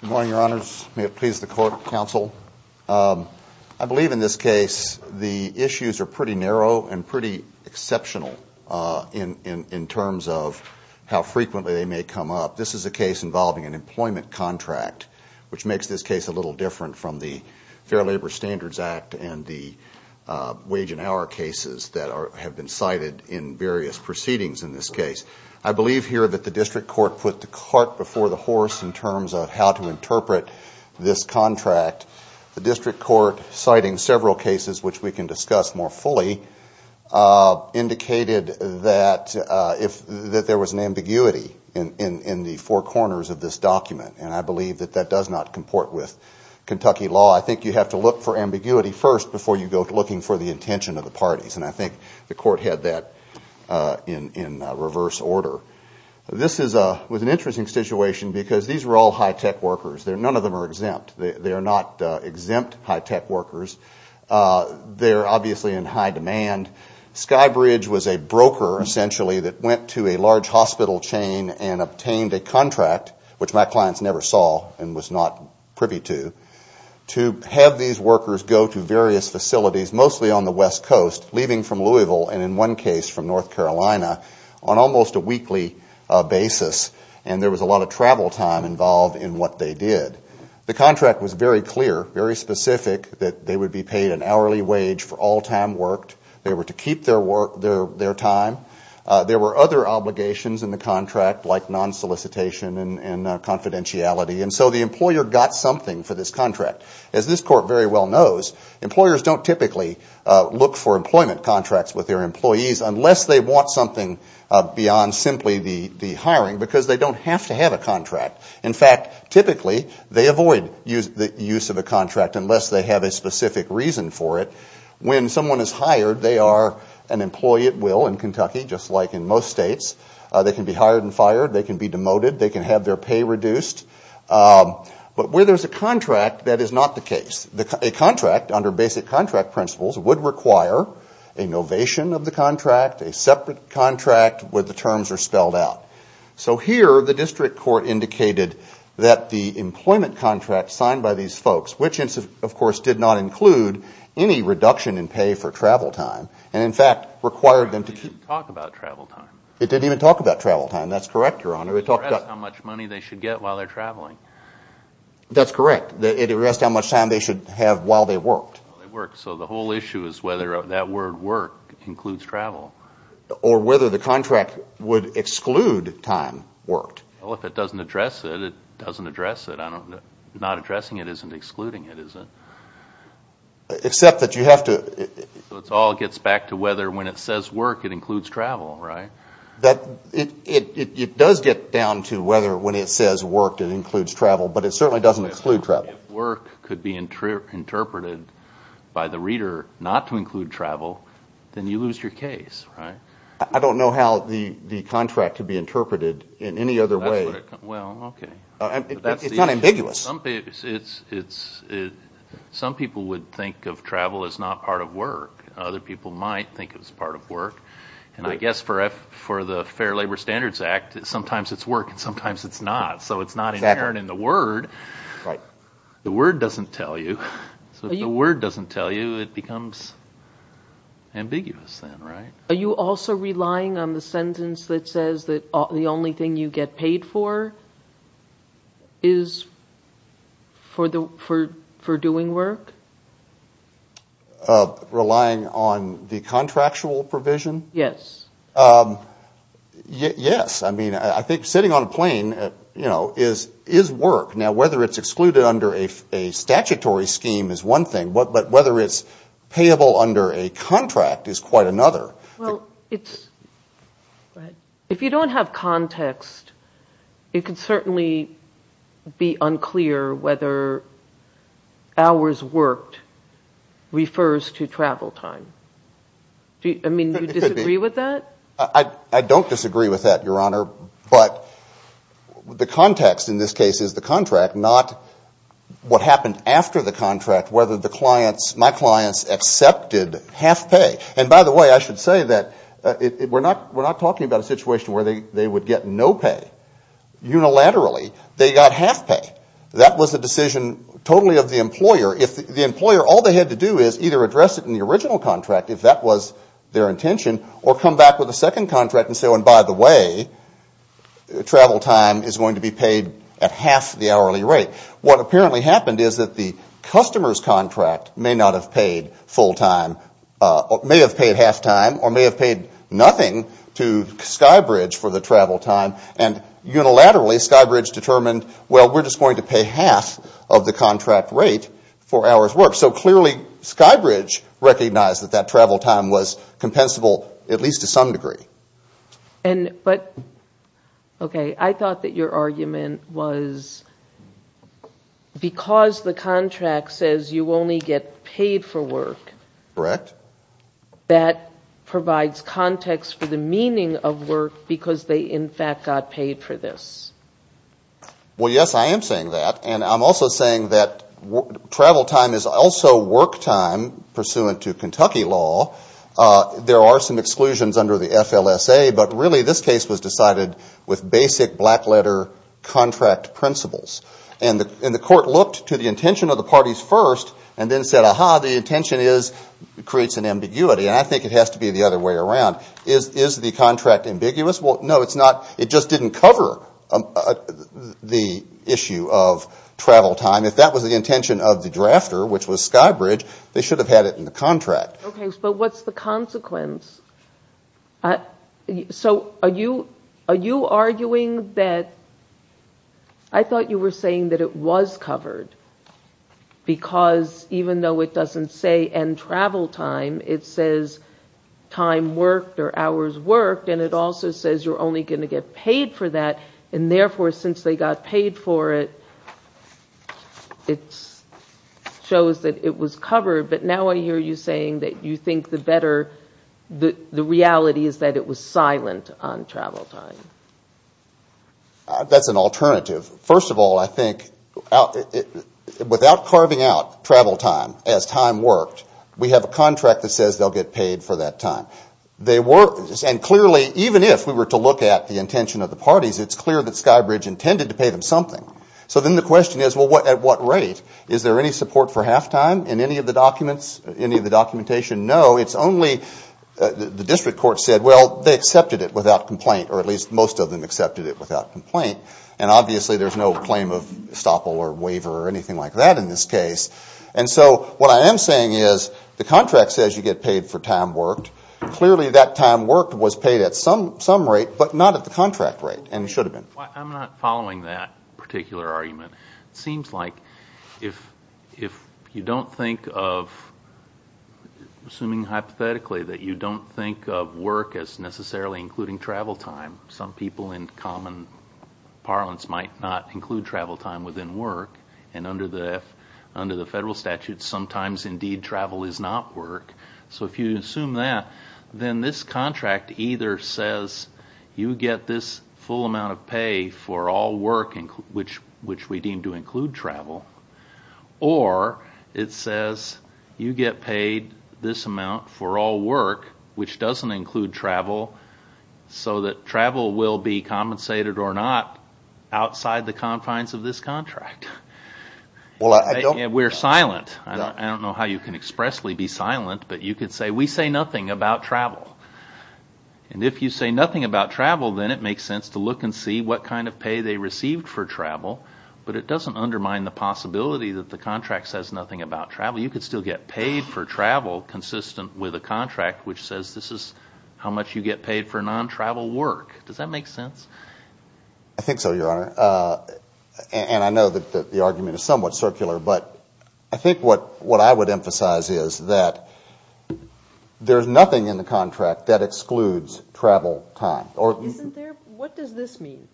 Good morning, your honors. May it please the court, counsel. I believe in this case the district court put the cart before the horse in terms of how to interpret this contract. The district court, citing several cases which we can discuss more fully, indicated that there was an ambiguity in the four corners of this document, and I believe that that does not comport with Kentucky law. I think you have to look for ambiguity first before you go looking for the intention of the parties, and I think the court had that in reverse order. This was an interesting situation because these were all high-tech workers. None of them are exempt. They are not exempt high-tech workers. They are obviously in high demand. Sky Bridge was a broker, essentially, that went to a large hospital chain and obtained a contract, which my clients never saw and was not privy to, to have these workers go to various facilities, mostly on the West Coast, leaving from Louisville, and in one case from North Carolina, on almost a weekly basis, and there was a lot of travel time involved in what they did. The contract was very clear, very specific, that they would be paid an hourly wage for all time worked. They were to keep their time. There were other obligations in the contract like non-solicitation and confidentiality, and so the employer got something for this contract. As this court very well knows, employers don't typically look for employment contracts with their employees unless they want something beyond simply the hiring because they don't have to have a contract. In fact, typically, they avoid the use of a contract unless they have a specific reason for it. When someone is hired, they are an employee at will in Kentucky, just like in most states. They can be hired and fired. They can be demoted. They can have their pay reduced, but where there's a contract, that is not the case. A contract, under basic contract principles, would require a novation of the contract, a separate contract where the terms are spelled out. So here, the district court indicated that the employment contract signed by these folks, which of course did not include any reduction in pay for travel time, and in fact required them to keep... It didn't even talk about travel time. It didn't even talk about travel time. That's correct, Your Honor. It addressed how much money they should get while they're traveling. That's correct. It addressed how much time they should have while they worked. So the whole issue is whether that word work includes travel. Or whether the contract would exclude time worked. Well, if it doesn't address it, it doesn't address it. Not addressing it isn't excluding it, is it? Except that you have to... So it all gets back to whether when it says work, it includes travel, right? It does get down to whether when it says worked, it includes travel, but it certainly doesn't include travel. If work could be interpreted by the reader not to include travel, then you lose your case, right? I don't know how the contract could be interpreted in any other way. Well, okay. It's not ambiguous. Some people would think of travel as not part of work. Other people might think it was part of work. And I guess for the Fair Labor Standards Act, sometimes it's work and sometimes it's not. So it's not inherent in the word. Right. The word doesn't tell you. So if the word doesn't tell you, it becomes ambiguous then, right? Are you also relying on the sentence that says that the only thing you get paid for is for doing work? Relying on the contractual provision? Yes. Yes. I mean, I think sitting on a plane is work. Now, whether it's excluded under a statutory scheme is one thing, but whether it's payable under a contract is quite another. If you don't have context, it could certainly be unclear whether hours worked refers to travel time. I mean, do you disagree with that? I don't disagree with that, Your Honor. But the context in this case is the contract, not what happened after the contract, whether my clients accepted half pay. And by the way, I should say that we're not talking about a situation where they would get no pay. Unilaterally, they got half pay. That was a decision totally of the employer. If the employer, all they had to do is either address it in the original contract, if that was their intention, or come back with a second contract and say, oh, and by the way, travel time is going to be paid at half the hourly rate. What apparently happened is that the customer's contract may not have paid full time, may have paid half time, or may have paid nothing to Skybridge for the travel time. And unilaterally, Skybridge determined, well, we're just going to pay half of the contract rate for hours of work. So clearly, Skybridge recognized that that travel time was compensable at least to some degree. But, okay, I thought that your argument was because the contract says you only get paid for work, that provides context for the meaning of work because they, in fact, got paid for this. Well, yes, I am saying that. And I'm also saying that travel time is also work time pursuant to Kentucky law. There are some exclusions under the FLSA. But really, this case was decided with basic black letter contract principles. And the court looked to the intention of the parties first and then said, aha, the intention is, creates an ambiguity. And I think it has to be the other way around. Is the contract ambiguous? Well, no, it's not. It just didn't cover the issue of travel time. If that was the intention of the drafter, which was Skybridge, they should have had it in the contract. Okay, but what's the consequence? So are you arguing that, I thought you were saying that it was covered because even though it doesn't say end travel time, it says time worked or only going to get paid for that. And therefore, since they got paid for it, it shows that it was covered. But now I hear you saying that you think the better, the reality is that it was silent on travel time. That's an alternative. First of all, I think without carving out travel time as time worked, we have a contract that says they'll get paid for that time. And clearly, even if we were to look at the intention of the parties, it's clear that Skybridge intended to pay them something. So then the question is, well, at what rate? Is there any support for halftime in any of the documents, any of the documentation? No, it's only the district court said, well, they accepted it without complaint, or at least most of them accepted it without complaint. And obviously, there's no claim of estoppel or waiver or anything like that in this case. And so what I am saying is, the contract says you get paid for time worked. Clearly, that time worked was paid at some rate, but not at the contract rate, and it should have been. I'm not following that particular argument. It seems like if you don't think of, assuming hypothetically, that you don't think of work as necessarily including travel time, some people in common parlance might not include travel time within work. And under the federal statute, sometimes, indeed, travel is not work. So if you assume that, then this contract either says you get this full amount of pay for all work, which we deem to include travel, or it says you get paid this amount for all work, which doesn't include travel, so that travel will be compensated or not outside the confines of this contract. We're silent. I don't know how you can expressly be silent, but you could say, we say nothing about travel. And if you say nothing about travel, then it makes sense to look and see what kind of pay they received for travel, but it doesn't undermine the possibility that the contract says nothing about travel. You could still get paid for travel consistent with a contract which says this is how much you get paid for non-travel work. Does that make sense? I think so, Your Honor. And I know that the argument is somewhat circular, but I think what I would emphasize is that there's nothing in the contract that excludes travel time. What does this mean?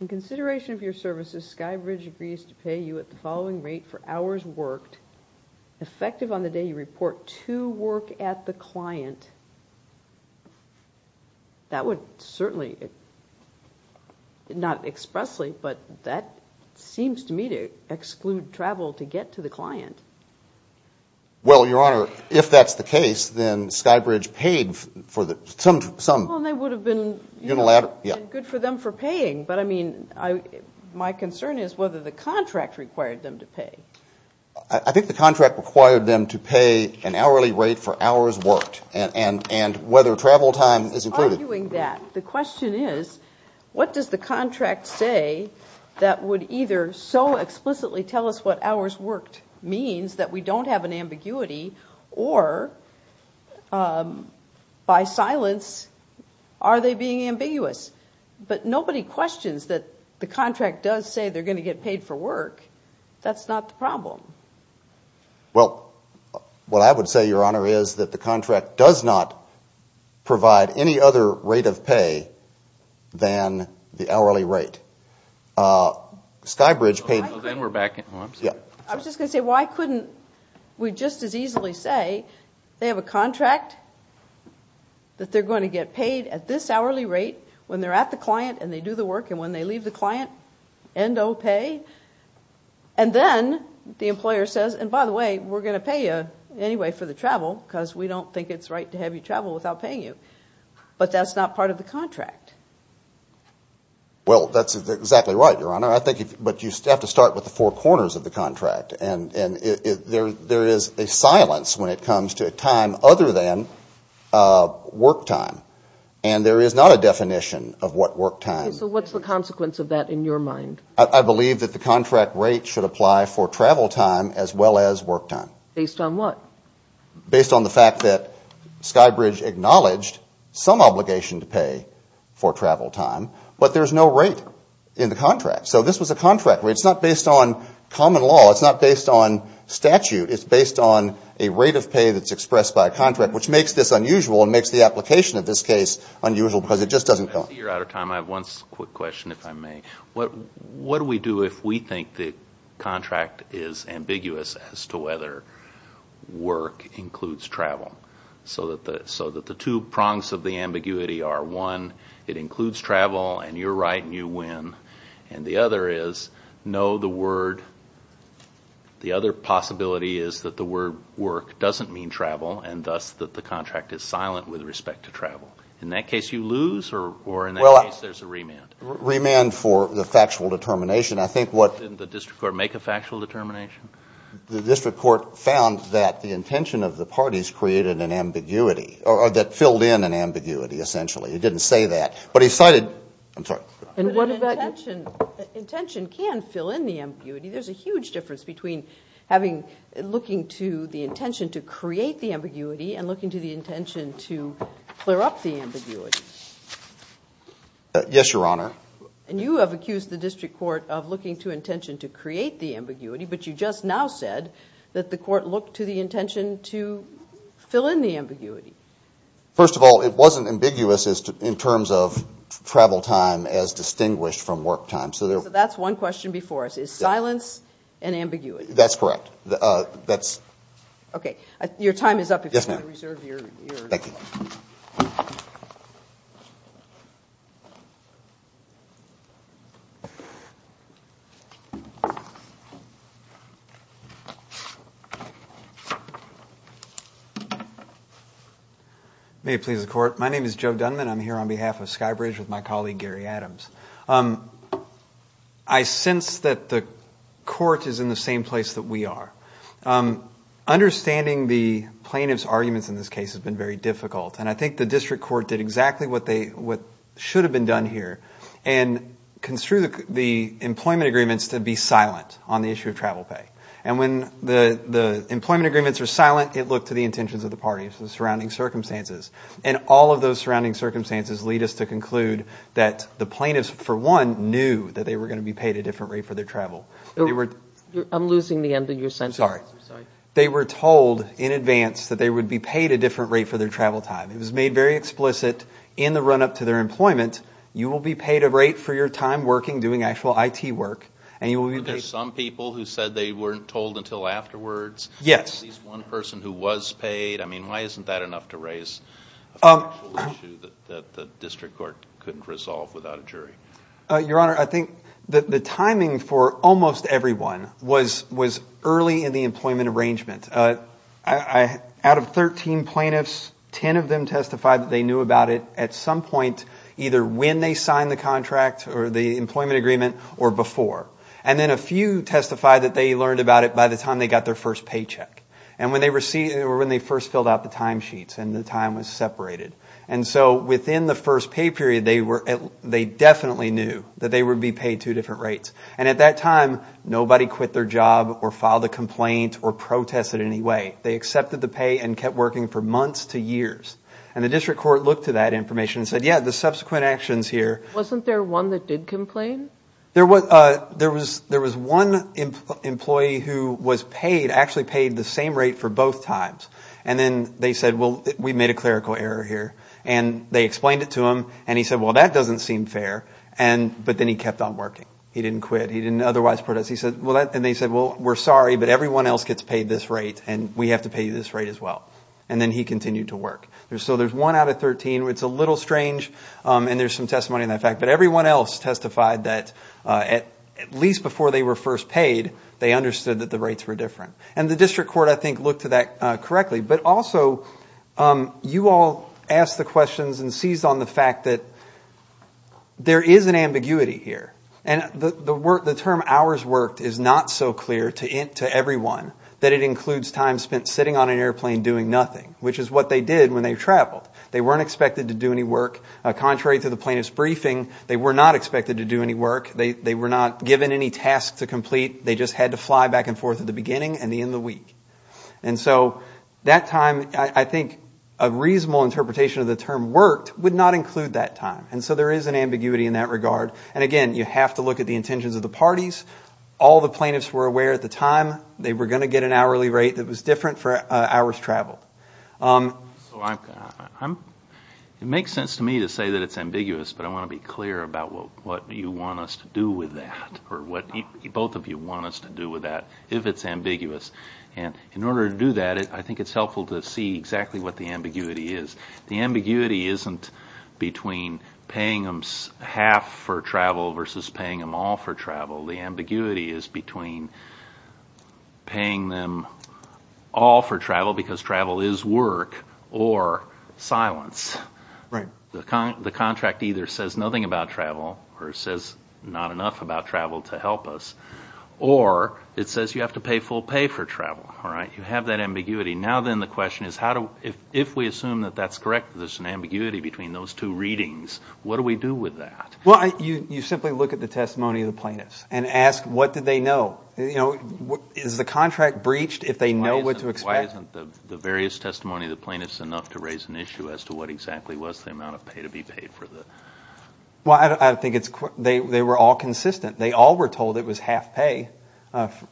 In consideration of your services, Skybridge agrees to pay you at the following rate for hours worked, effective on the day you report to work at the client. That would certainly, not expressly, but that seems to me to exclude travel to get to the client. Well, Your Honor, if that's the case, then Skybridge paid for some. Well, and they would have been, you know, good for them for paying, but I mean, my concern is whether the contract required them to pay. I think the contract required them to pay an hourly rate for hours worked, and whether travel time is included. I'm not arguing that. The question is, what does the contract say that would either so explicitly tell us what hours worked means that we don't have an ambiguity, or by silence, are they being ambiguous? But nobody questions that the contract does say they're going to get paid for work. That's not the problem. Well, what I would say, Your Honor, is that the contract does not provide any other rate of pay than the hourly rate. Skybridge paid... I was just going to say, why couldn't we just as easily say they have a contract that they're going to get paid at this hourly rate when they're at the client, and they do the work, and when they leave the client, end of pay, and then the employer says, and by the way, we're going to pay you anyway for the travel, because we don't think it's right to have you travel without paying you. But that's not part of the contract. Well, that's exactly right, Your Honor. I think, but you have to start with the four corners of the contract, and there is a silence when it comes to a time other than work time, and there is not a definition of what work time... So what's the consequence of that in your mind? I believe that the contract rate should apply for travel time as well as work time. Based on what? Based on the fact that Skybridge acknowledged some obligation to pay for travel time, but there's no rate in the contract. So this was a contract. It's not based on common law. It's not based on statute. It's based on a rate of pay that's expressed by a contract, which makes this unusual and makes the application of this case unusual, because it just doesn't count. Your Honor, I have one quick question, if I may. What do we do if we think the contract is ambiguous as to whether work includes travel, so that the two prongs of the ambiguity are one, it includes travel, and you're right and you win, and the other is, no, the word, the other possibility is that the word work doesn't mean travel, and thus that the contract is silent with respect to travel. In that case you lose, or in that case there's a remand? Remand for the factual determination. I think what... Didn't the district court make a factual determination? The district court found that the intention of the parties created an ambiguity, or that filled in an ambiguity, essentially. It didn't say that, but he cited... I'm sorry. Intention can fill in the ambiguity. There's a huge difference between looking to the intention to create the ambiguity and looking to the intention to clear up the ambiguity. Yes, Your Honor. And you have accused the district court of looking to intention to create the ambiguity, but you just now said that the court looked to the intention to fill in the ambiguity. First of all, it wasn't ambiguous in terms of travel time as distinguished from work time. So that's one question before us. Is silence an ambiguity? That's correct. Okay. Your time is up if you want to reserve your... Thank you. May it please the court. My name is Joe Dunman. I'm here on behalf of Skybridge with my colleague, Understanding the plaintiff's arguments in this case has been very difficult, and I think the district court did exactly what should have been done here and construed the employment agreements to be silent on the issue of travel pay. And when the employment agreements are silent, it looked to the intentions of the parties and the surrounding circumstances. And all of those surrounding circumstances lead us to conclude that the plaintiffs, for one, knew that they were going to be paid a different rate for their travel. I'm losing the end of your sentence. Sorry. They were told in advance that they would be paid a different rate for their travel time. It was made very explicit in the run-up to their employment, you will be paid a rate for your time working, doing actual IT work, and you will be paid... But there's some people who said they weren't told until afterwards. Yes. At least one person who was paid. I mean, why isn't that enough to raise a factual issue that the district court couldn't resolve without a jury? Your Honor, I think the timing for almost everyone was early in the employment arrangement. Out of 13 plaintiffs, 10 of them testified that they knew about it at some point either when they signed the contract or the employment agreement or before. And then a few testified that they learned about it by the time they got their first paycheck. And when they first filled out the time sheets and the time was separated. And so within the first pay period, they definitely knew that they would be paid two different rates. And at that time, nobody quit their job or filed a complaint or protested in any way. They accepted the pay and kept working for months to years. And the district court looked to that information and said, yeah, the subsequent actions here... Wasn't there one that did complain? There was one employee who was paid, actually paid the same rate for both times. And then they said, well, we made a clerical error here. And they explained it to him. And he said, well, that doesn't seem fair. And but then he kept on working. He didn't quit. He didn't otherwise protest. He said, well, and they said, well, we're sorry, but everyone else gets paid this rate. And we have to pay you this rate as well. And then he continued to work. So there's one out of 13. It's a little strange. And there's some testimony in that fact. But everyone else testified that at least before they were first paid, they understood that the rates were different. And the district court, I think, looked to that correctly. But also, you all asked the questions and seized on the fact that there is an ambiguity here. And the term hours worked is not so clear to everyone that it includes time spent sitting on an airplane doing nothing, which is what they did when they traveled. They weren't expected to do any work. Contrary to the plaintiff's briefing, they were not expected to do any work. They were not given any tasks to complete. They just had to fly back and forth at the beginning. And the end of the week. And so that time, I think, a reasonable interpretation of the term worked would not include that time. And so there is an ambiguity in that regard. And again, you have to look at the intentions of the parties. All the plaintiffs were aware at the time they were going to get an hourly rate that was different for hours traveled. It makes sense to me to say that it's ambiguous. But I want to be clear about what you want us to do with that or what both of you want us to do with that. If it's ambiguous. And in order to do that, I think it's helpful to see exactly what the ambiguity is. The ambiguity isn't between paying them half for travel versus paying them all for travel. The ambiguity is between paying them all for travel, because travel is work, or silence. The contract either says nothing about travel or says not enough about travel to help us. Or it says you have to pay full pay for travel. All right. You have that ambiguity. Now then, the question is, if we assume that that's correct, that there's an ambiguity between those two readings, what do we do with that? Well, you simply look at the testimony of the plaintiffs and ask, what did they know? You know, is the contract breached if they know what to expect? Why isn't the various testimony of the plaintiffs enough to raise an issue as to what exactly was the amount of pay to be paid for the... Well, I think they were all consistent. They all were told it was half pay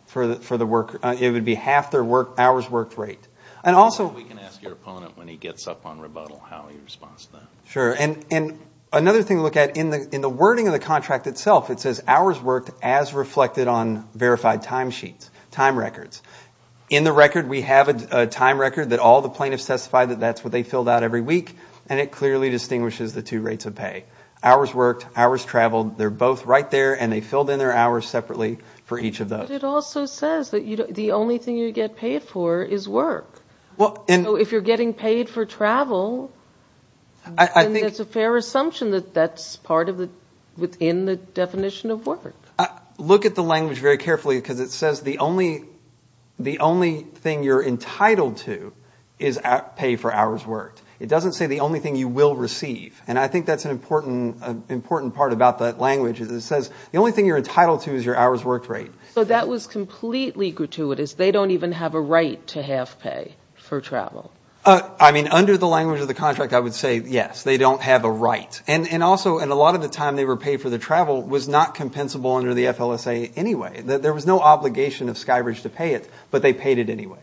for the work... It would be half their hours worked rate. And also... We can ask your opponent, when he gets up on rebuttal, how he responds to that. Sure. And another thing to look at, in the wording of the contract itself, it says hours worked as reflected on verified time sheets, time records. In the record, we have a time record that all the plaintiffs testified that that's what they filled out every week, and it clearly distinguishes the two rates of pay. Hours worked, hours traveled. They're both right there, and they filled in their hours separately for each of those. But it also says that the only thing you get paid for is work. Well, and... So if you're getting paid for travel, then it's a fair assumption that that's part of the... within the definition of work. Look at the language very carefully, because it says the only thing you're entitled to is pay for hours worked. It doesn't say the only thing you will receive. And I think that's an important part about that language. It says the only thing you're entitled to is your hours worked rate. So that was completely gratuitous. They don't even have a right to have pay for travel. I mean, under the language of the contract, I would say, yes, they don't have a right. And also, and a lot of the time they were paid for the travel was not compensable under the FLSA anyway. There was no obligation of Skybridge to pay it, but they paid it anyway.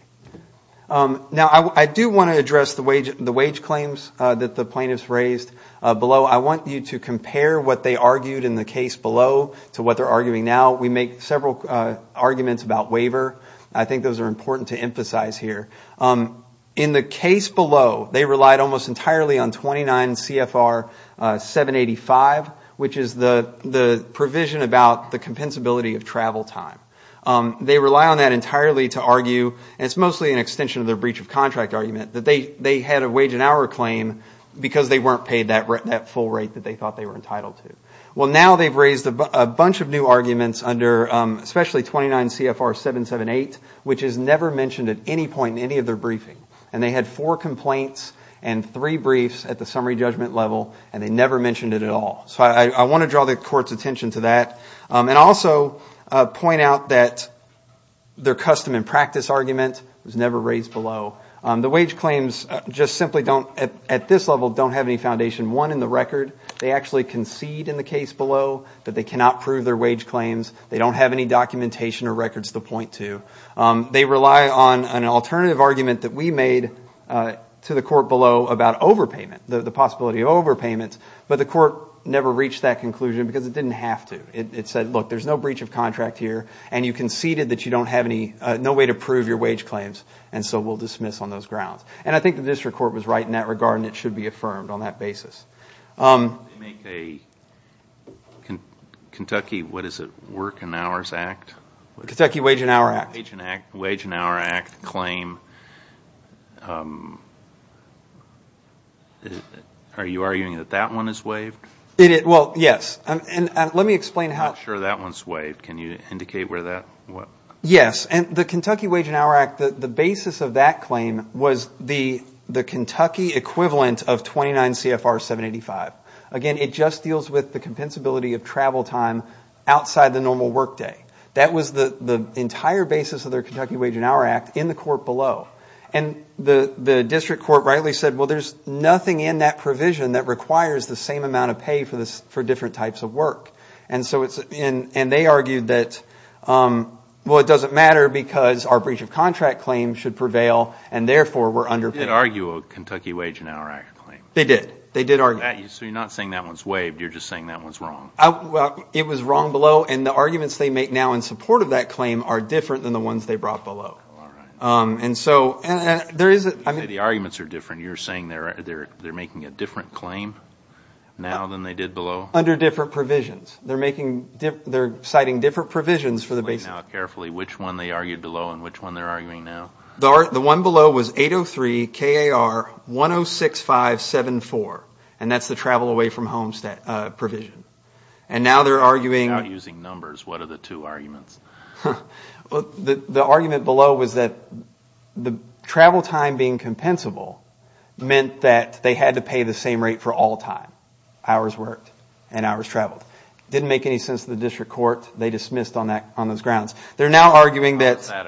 Now, I do want to address the wage claims that the plaintiffs raised below. I want you to compare what they argued in the case below to what they're arguing now. We make several arguments about waiver. I think those are important to emphasize here. In the case below, they relied almost entirely on 29 CFR 785, which is the provision about the compensability of travel time. They rely on that entirely to argue, and it's mostly an extension of their breach of contract argument, that they had a wage and hour claim because they weren't paid that full rate that they thought they were entitled to. Well, now they've raised a bunch of new arguments under especially 29 CFR 778, which is never mentioned at any point in any of their briefing. And they had four complaints and three briefs at the summary judgment level, and they never mentioned it at all. So I want to draw the court's attention to that. And also point out that their custom and practice argument was never raised below. The wage claims just simply don't, at this level, don't have any foundation one in the record. They actually concede in the case below that they cannot prove their wage claims. They don't have any documentation or records to point to. They rely on an alternative argument that we made to the court below about overpayment, the possibility of overpayment, but the court never reached that conclusion because it didn't have to. It said, look, there's no breach of contract here, and you conceded that you don't have any, no way to prove your wage claims, and so we'll dismiss on those grounds. And I think the district court was right in that regard, and it should be affirmed on that basis. They make a Kentucky, what is it, Work and Hours Act? Kentucky Wage and Hour Act. Wage and Hour Act claim. Are you arguing that that one is waived? Well, yes, and let me explain how. I'm not sure that one's waived. Can you indicate where that, what? Yes, and the Kentucky Wage and Hour Act, the basis of that claim was the Kentucky equivalent of 29 CFR 785. Again, it just deals with the compensability of travel time outside the normal workday. That was the entire basis of their Kentucky Wage and Hour Act in the court below. And the district court rightly said, well, there's nothing in that provision that requires the same amount of pay for different types of work. And so it's, and they argued that, well, it doesn't matter because our breach of contract claim should prevail, and therefore, we're underpaid. They did argue a Kentucky Wage and Hour Act claim. They did. They did argue. So you're not saying that one's waived. You're just saying that one's wrong. It was wrong below, and the arguments they make now in support of that claim are different than the ones they brought below. And so, and there is, I mean. The arguments are different. You're saying they're making a different claim now than they did below? Under different provisions. They're making, they're citing different provisions for the basic. Carefully, which one they argued below and which one they're arguing now? The one below was 803 KAR 106574, and that's the travel away from homestead provision. And now they're arguing. Without using numbers, what are the two arguments? Well, the argument below was that the travel time being compensable meant that they had to pay the same rate for all time. Hours worked and hours traveled. Didn't make any sense to the district court. They dismissed on those grounds. They're now arguing that. Is that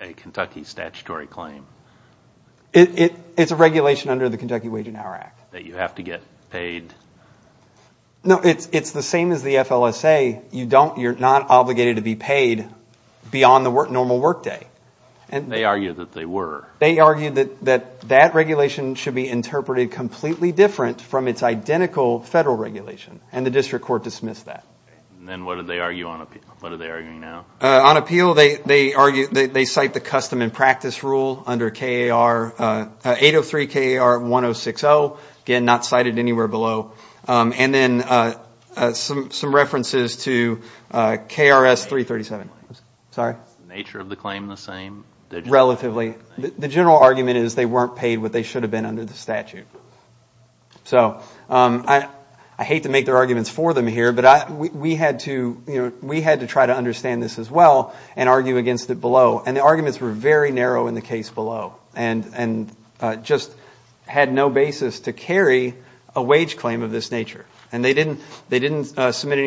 a Kentucky statutory claim? It's a regulation under the Kentucky Wage and Hour Act. That you have to get paid. No, it's the same as the FLSA. You're not obligated to be paid beyond the normal workday. They argued that they were. They argued that that regulation should be interpreted completely different from its identical federal regulation, and the district court dismissed that. And then what did they argue on appeal? What are they arguing now? On appeal, they cite the custom and practice rule under 803 KAR 1060. Again, not cited anywhere below. And then some references to KRS 337. Is the nature of the claim the same? Relatively. The general argument is they weren't paid what they should have been under the statute. So I hate to make their arguments for them here, but we had to try to understand this as well and argue against it below. And the arguments were very narrow in the case below, and just had no basis to carry a wage claim of this nature. And they didn't submit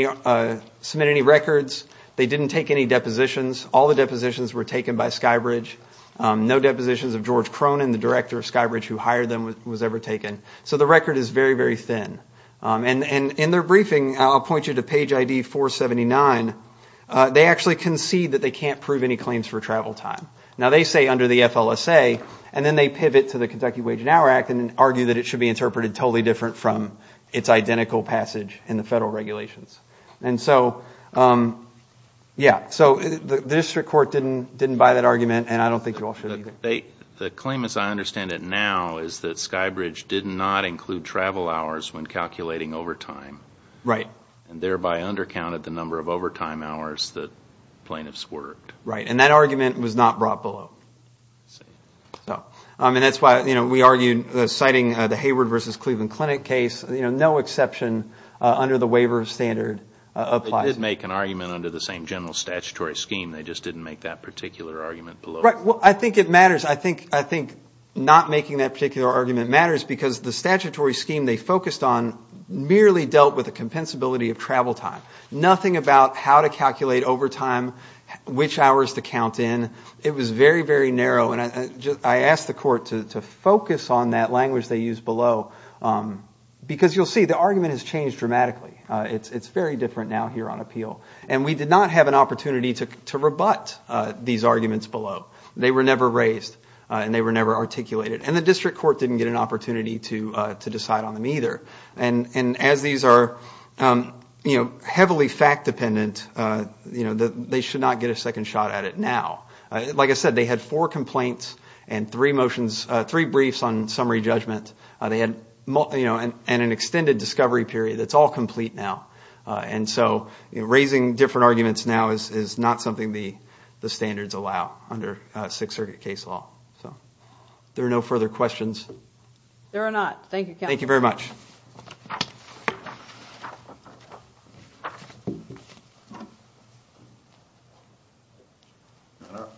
any records. They didn't take any depositions. All the depositions were taken by SkyBridge. No depositions of George Cronin, the director of SkyBridge who hired them, was ever taken. So the record is very, very thin. And in their briefing, I'll point you to page ID 479, they actually concede that they can't prove any claims for travel time. Now, they say under the FLSA, and then they pivot to the Kentucky Wage and Hour Act and argue that it should be interpreted totally different from its identical passage in the federal regulations. And so, yeah. So the district court didn't buy that argument, and I don't think you all should either. The claim, as I understand it now, is that SkyBridge did not include travel hours when calculating overtime. Right. And thereby undercounted the number of overtime hours that plaintiffs worked. Right. And that argument was not brought below. I mean, that's why we argued, citing the Hayward v. Cleveland Clinic case, no exception under the waiver of standard applies. They did make an argument under the same general statutory scheme. They just didn't make that particular argument below. Right. I think it matters. I think not making that particular argument matters because the statutory scheme they focused on merely dealt with the compensability of travel time. Nothing about how to calculate overtime, which hours to count in. It was very, very narrow. And I asked the court to focus on that language they used below because you'll see the argument has changed dramatically. It's very different now here on appeal. And we did not have an opportunity to rebut these arguments below. They were never raised, and they were never articulated. And the district court didn't get an opportunity to decide on them either. And as these are heavily fact-dependent, you know, they should not get a second shot at it now. Like I said, they had four complaints and three motions, three briefs on summary judgment. They had, you know, an extended discovery period. It's all complete now. And so raising different arguments now is not something the standards allow under Sixth Circuit case law. So there are no further questions. There are not. Thank you. Thank you very much.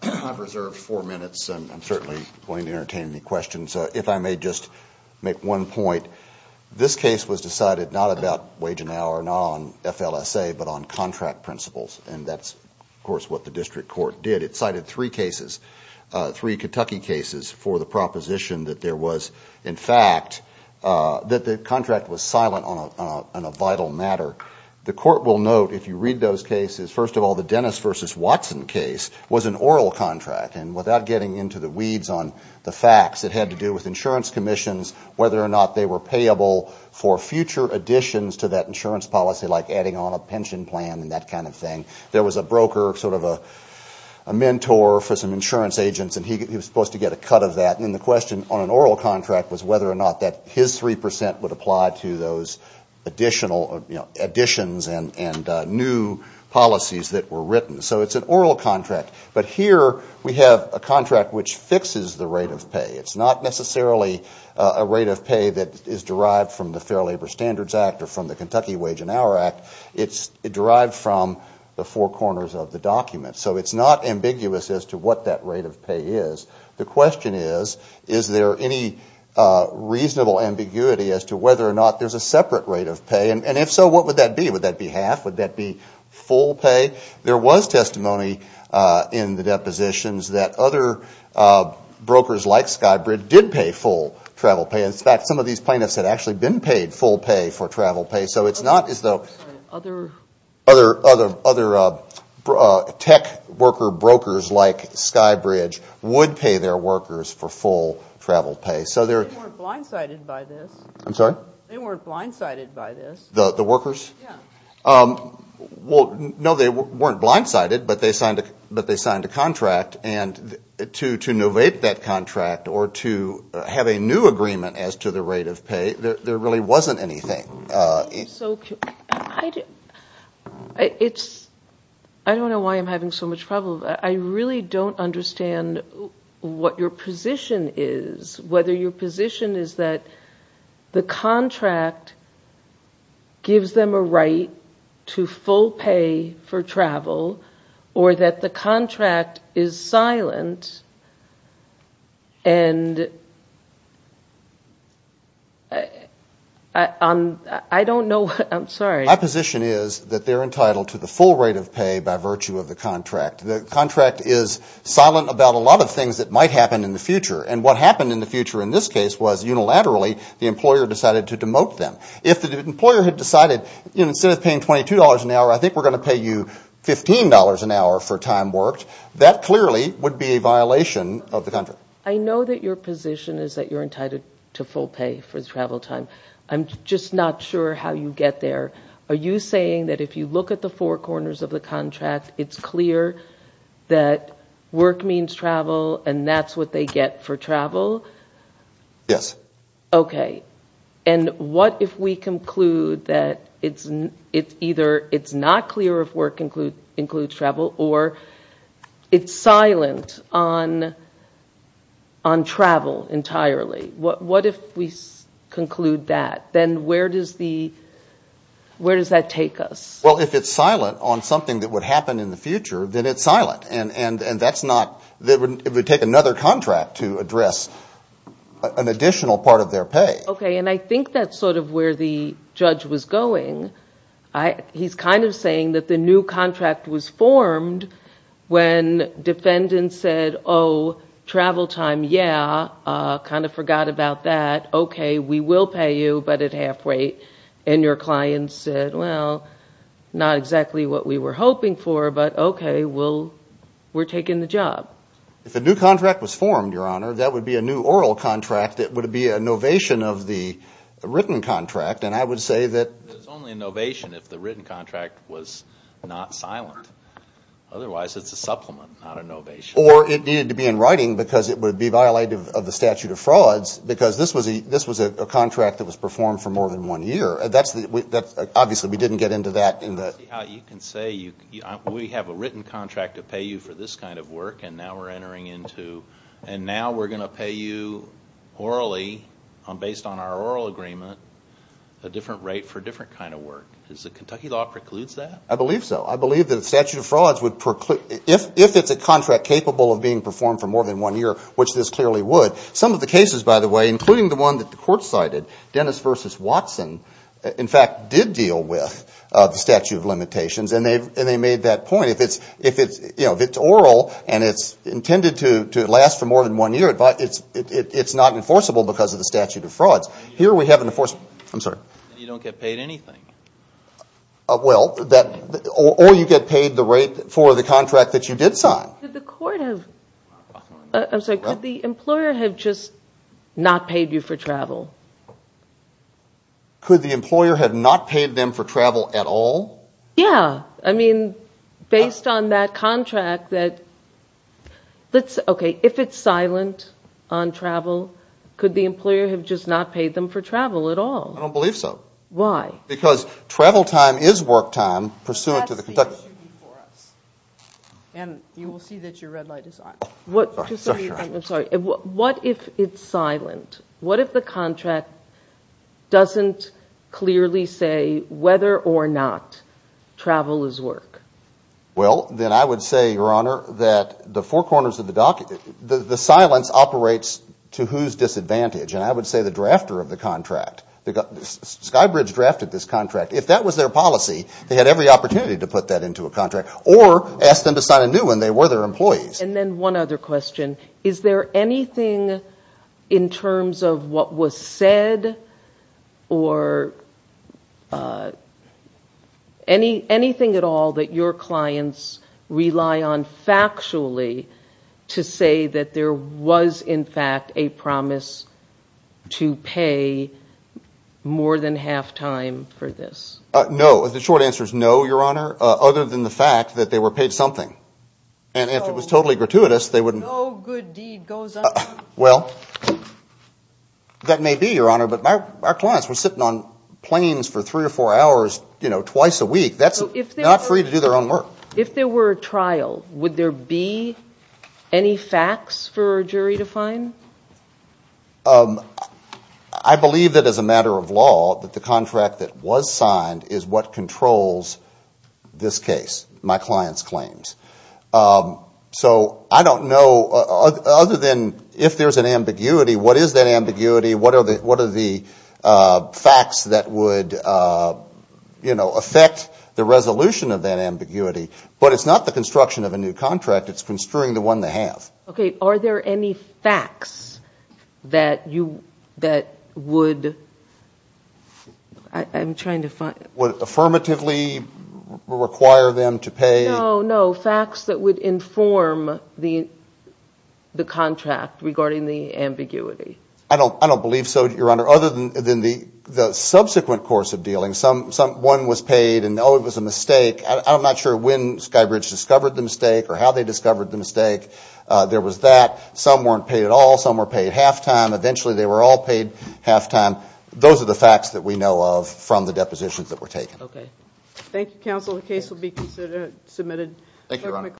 I've reserved four minutes, and I'm certainly going to entertain any questions. So if I may just make one point, this case was decided not about wage and hour, not on FLSA, but on contract principles. And that's, of course, what the district court did. It cited three cases, three Kentucky cases, for the proposition that there was, in fact, that the contract was silent on a vital matter. The court will note, if you read those cases, first of all, the Dennis v. Watson case was an oral contract. And without getting into the weeds on the facts, it had to do with insurance commissions, whether or not they were payable for future additions to that insurance policy, like adding on a pension plan and that kind of thing. There was a broker, sort of a mentor for some insurance agents, and he was supposed to get a cut of that. And then the question on an oral contract was whether or not that his 3 percent would apply to those additional, you know, additions and new policies that were written. So it's an oral contract. But here we have a contract which fixes the rate of pay. It's not necessarily a rate of pay that is derived from the Fair Labor Standards Act or from the Kentucky Wage and Hour Act. It's derived from the four corners of the document. So it's not ambiguous as to what that rate of pay is. The question is, is there any reasonable ambiguity as to whether or not there's a separate rate of pay? And if so, what would that be? Would that be half? Would that be full pay? There was testimony in the depositions that other brokers like Skybridge did pay full travel pay. In fact, some of these plaintiffs had actually been paid full pay for travel pay. So it's not as though other tech worker brokers like Skybridge would pay their workers for full travel pay. They weren't blindsided by this. I'm sorry? They weren't blindsided by this. The workers? Well, no, they weren't blindsided, but they signed a contract. And to innovate that contract or to have a new agreement as to the rate of pay, there really wasn't anything. I don't know why I'm having so much trouble. I really don't understand what your position is, whether your position is that the contract gives them a right to full pay for travel or that the contract is silent and I don't know. I'm sorry. My position is that they're entitled to the full rate of pay by virtue of the contract. The contract is silent about a lot of things that might happen in the future. And what happened in the future in this case was unilaterally, the employer decided to demote them. If the employer had decided, you know, instead of paying $22 an hour, I think we're going to pay you $15 an hour for time worked, that clearly would be a violation of the contract. I know that your position is that you're entitled to full pay for travel time. I'm just not sure how you get there. Are you saying that if you look at the four corners of the contract, it's clear that work means travel and that's what they get for travel? Yes. Okay. And what if we conclude that it's either it's not clear if work includes travel or it's silent on travel entirely? What if we conclude that? Then where does that take us? Well, if it's silent on something that would happen in the future, then it's silent. And it would take another contract to address an additional part of their pay. Okay. And I think that's sort of where the judge was going. He's kind of saying that the new contract was formed when defendants said, oh, travel time, yeah, kind of forgot about that. Okay. We will pay you, but at half rate. And your client said, well, not exactly what we were hoping for, but okay, we're taking the job. If a new contract was formed, Your Honor, that would be a new oral contract. It would be a novation of the written contract. And I would say that... It's only a novation if the written contract was not silent. Otherwise, it's a supplement, not a novation. Or it needed to be in writing because it would be violated of the statute of frauds because this was a contract that was performed for more than one year. Obviously, we didn't get into that. Let's see how you can say we have a written contract to pay you for this kind of work, and now we're entering into... And now we're going to pay you orally, based on our oral agreement, a different rate for a different kind of work. Does the Kentucky law precludes that? I believe so. I believe that the statute of frauds would preclude... If it's a contract capable of being performed for more than one year, which this clearly would. Some of the cases, by the way, including the one that the court cited, Dennis v. Watson, in fact, did deal with the statute of limitations, and they made that point. If it's oral and it's intended to last for more than one year, it's not enforceable because of the statute of frauds. Here we have an enforceable... I'm sorry. You don't get paid anything. Well, or you get paid the rate for the contract that you did sign. Did the court have... I'm sorry. Could the employer have just not paid you for travel? Could the employer have not paid them for travel at all? Yeah. I mean, based on that contract that... Okay. If it's silent on travel, could the employer have just not paid them for travel at all? I don't believe so. Why? Because travel time is work time pursuant to the Kentucky... That's the issue for us. And you will see that your red light is on. Sorry. I'm sorry. What if it's silent? What if the contract doesn't clearly say whether or not travel is work? Well, then I would say, Your Honor, that the four corners of the dock... The silence operates to whose disadvantage. And I would say the drafter of the contract. Skybridge drafted this contract. If that was their policy, they had every opportunity to put that into a contract or ask them to sign a new one. They were their employees. And then one other question. Is there anything in terms of what was said or anything at all that your clients rely on factually to say that there was, in fact, a promise to pay more than half time for this? No. The short answer is no, Your Honor, other than the fact that they were paid something. And if it was totally gratuitous, they wouldn't... No good deed goes unpunished. Well, that may be, Your Honor, but our clients were sitting on planes for three or four hours, you know, twice a week. That's not free to do their own work. If there were a trial, would there be any facts for a jury to find? I believe that as a matter of law, that the contract that was signed is what controls this case, my client's claims. So I don't know, other than if there's an ambiguity, what is that ambiguity? What are the facts that would, you know, affect the resolution of that ambiguity? But it's not the construction of a new contract. It's construing the one they have. Okay. Are there any facts that you, that would... I'm trying to find... Would it affirmatively require them to pay? No, facts that would inform the contract regarding the ambiguity. I don't believe so, Your Honor, other than the subsequent course of dealing. One was paid and, oh, it was a mistake. I'm not sure when Skybridge discovered the mistake or how they discovered the mistake. There was that. Some weren't paid at all. Some were paid halftime. Eventually, they were all paid halftime. Those are the facts that we know of from the depositions that were taken. Okay. Thank you, counsel. The case will be submitted.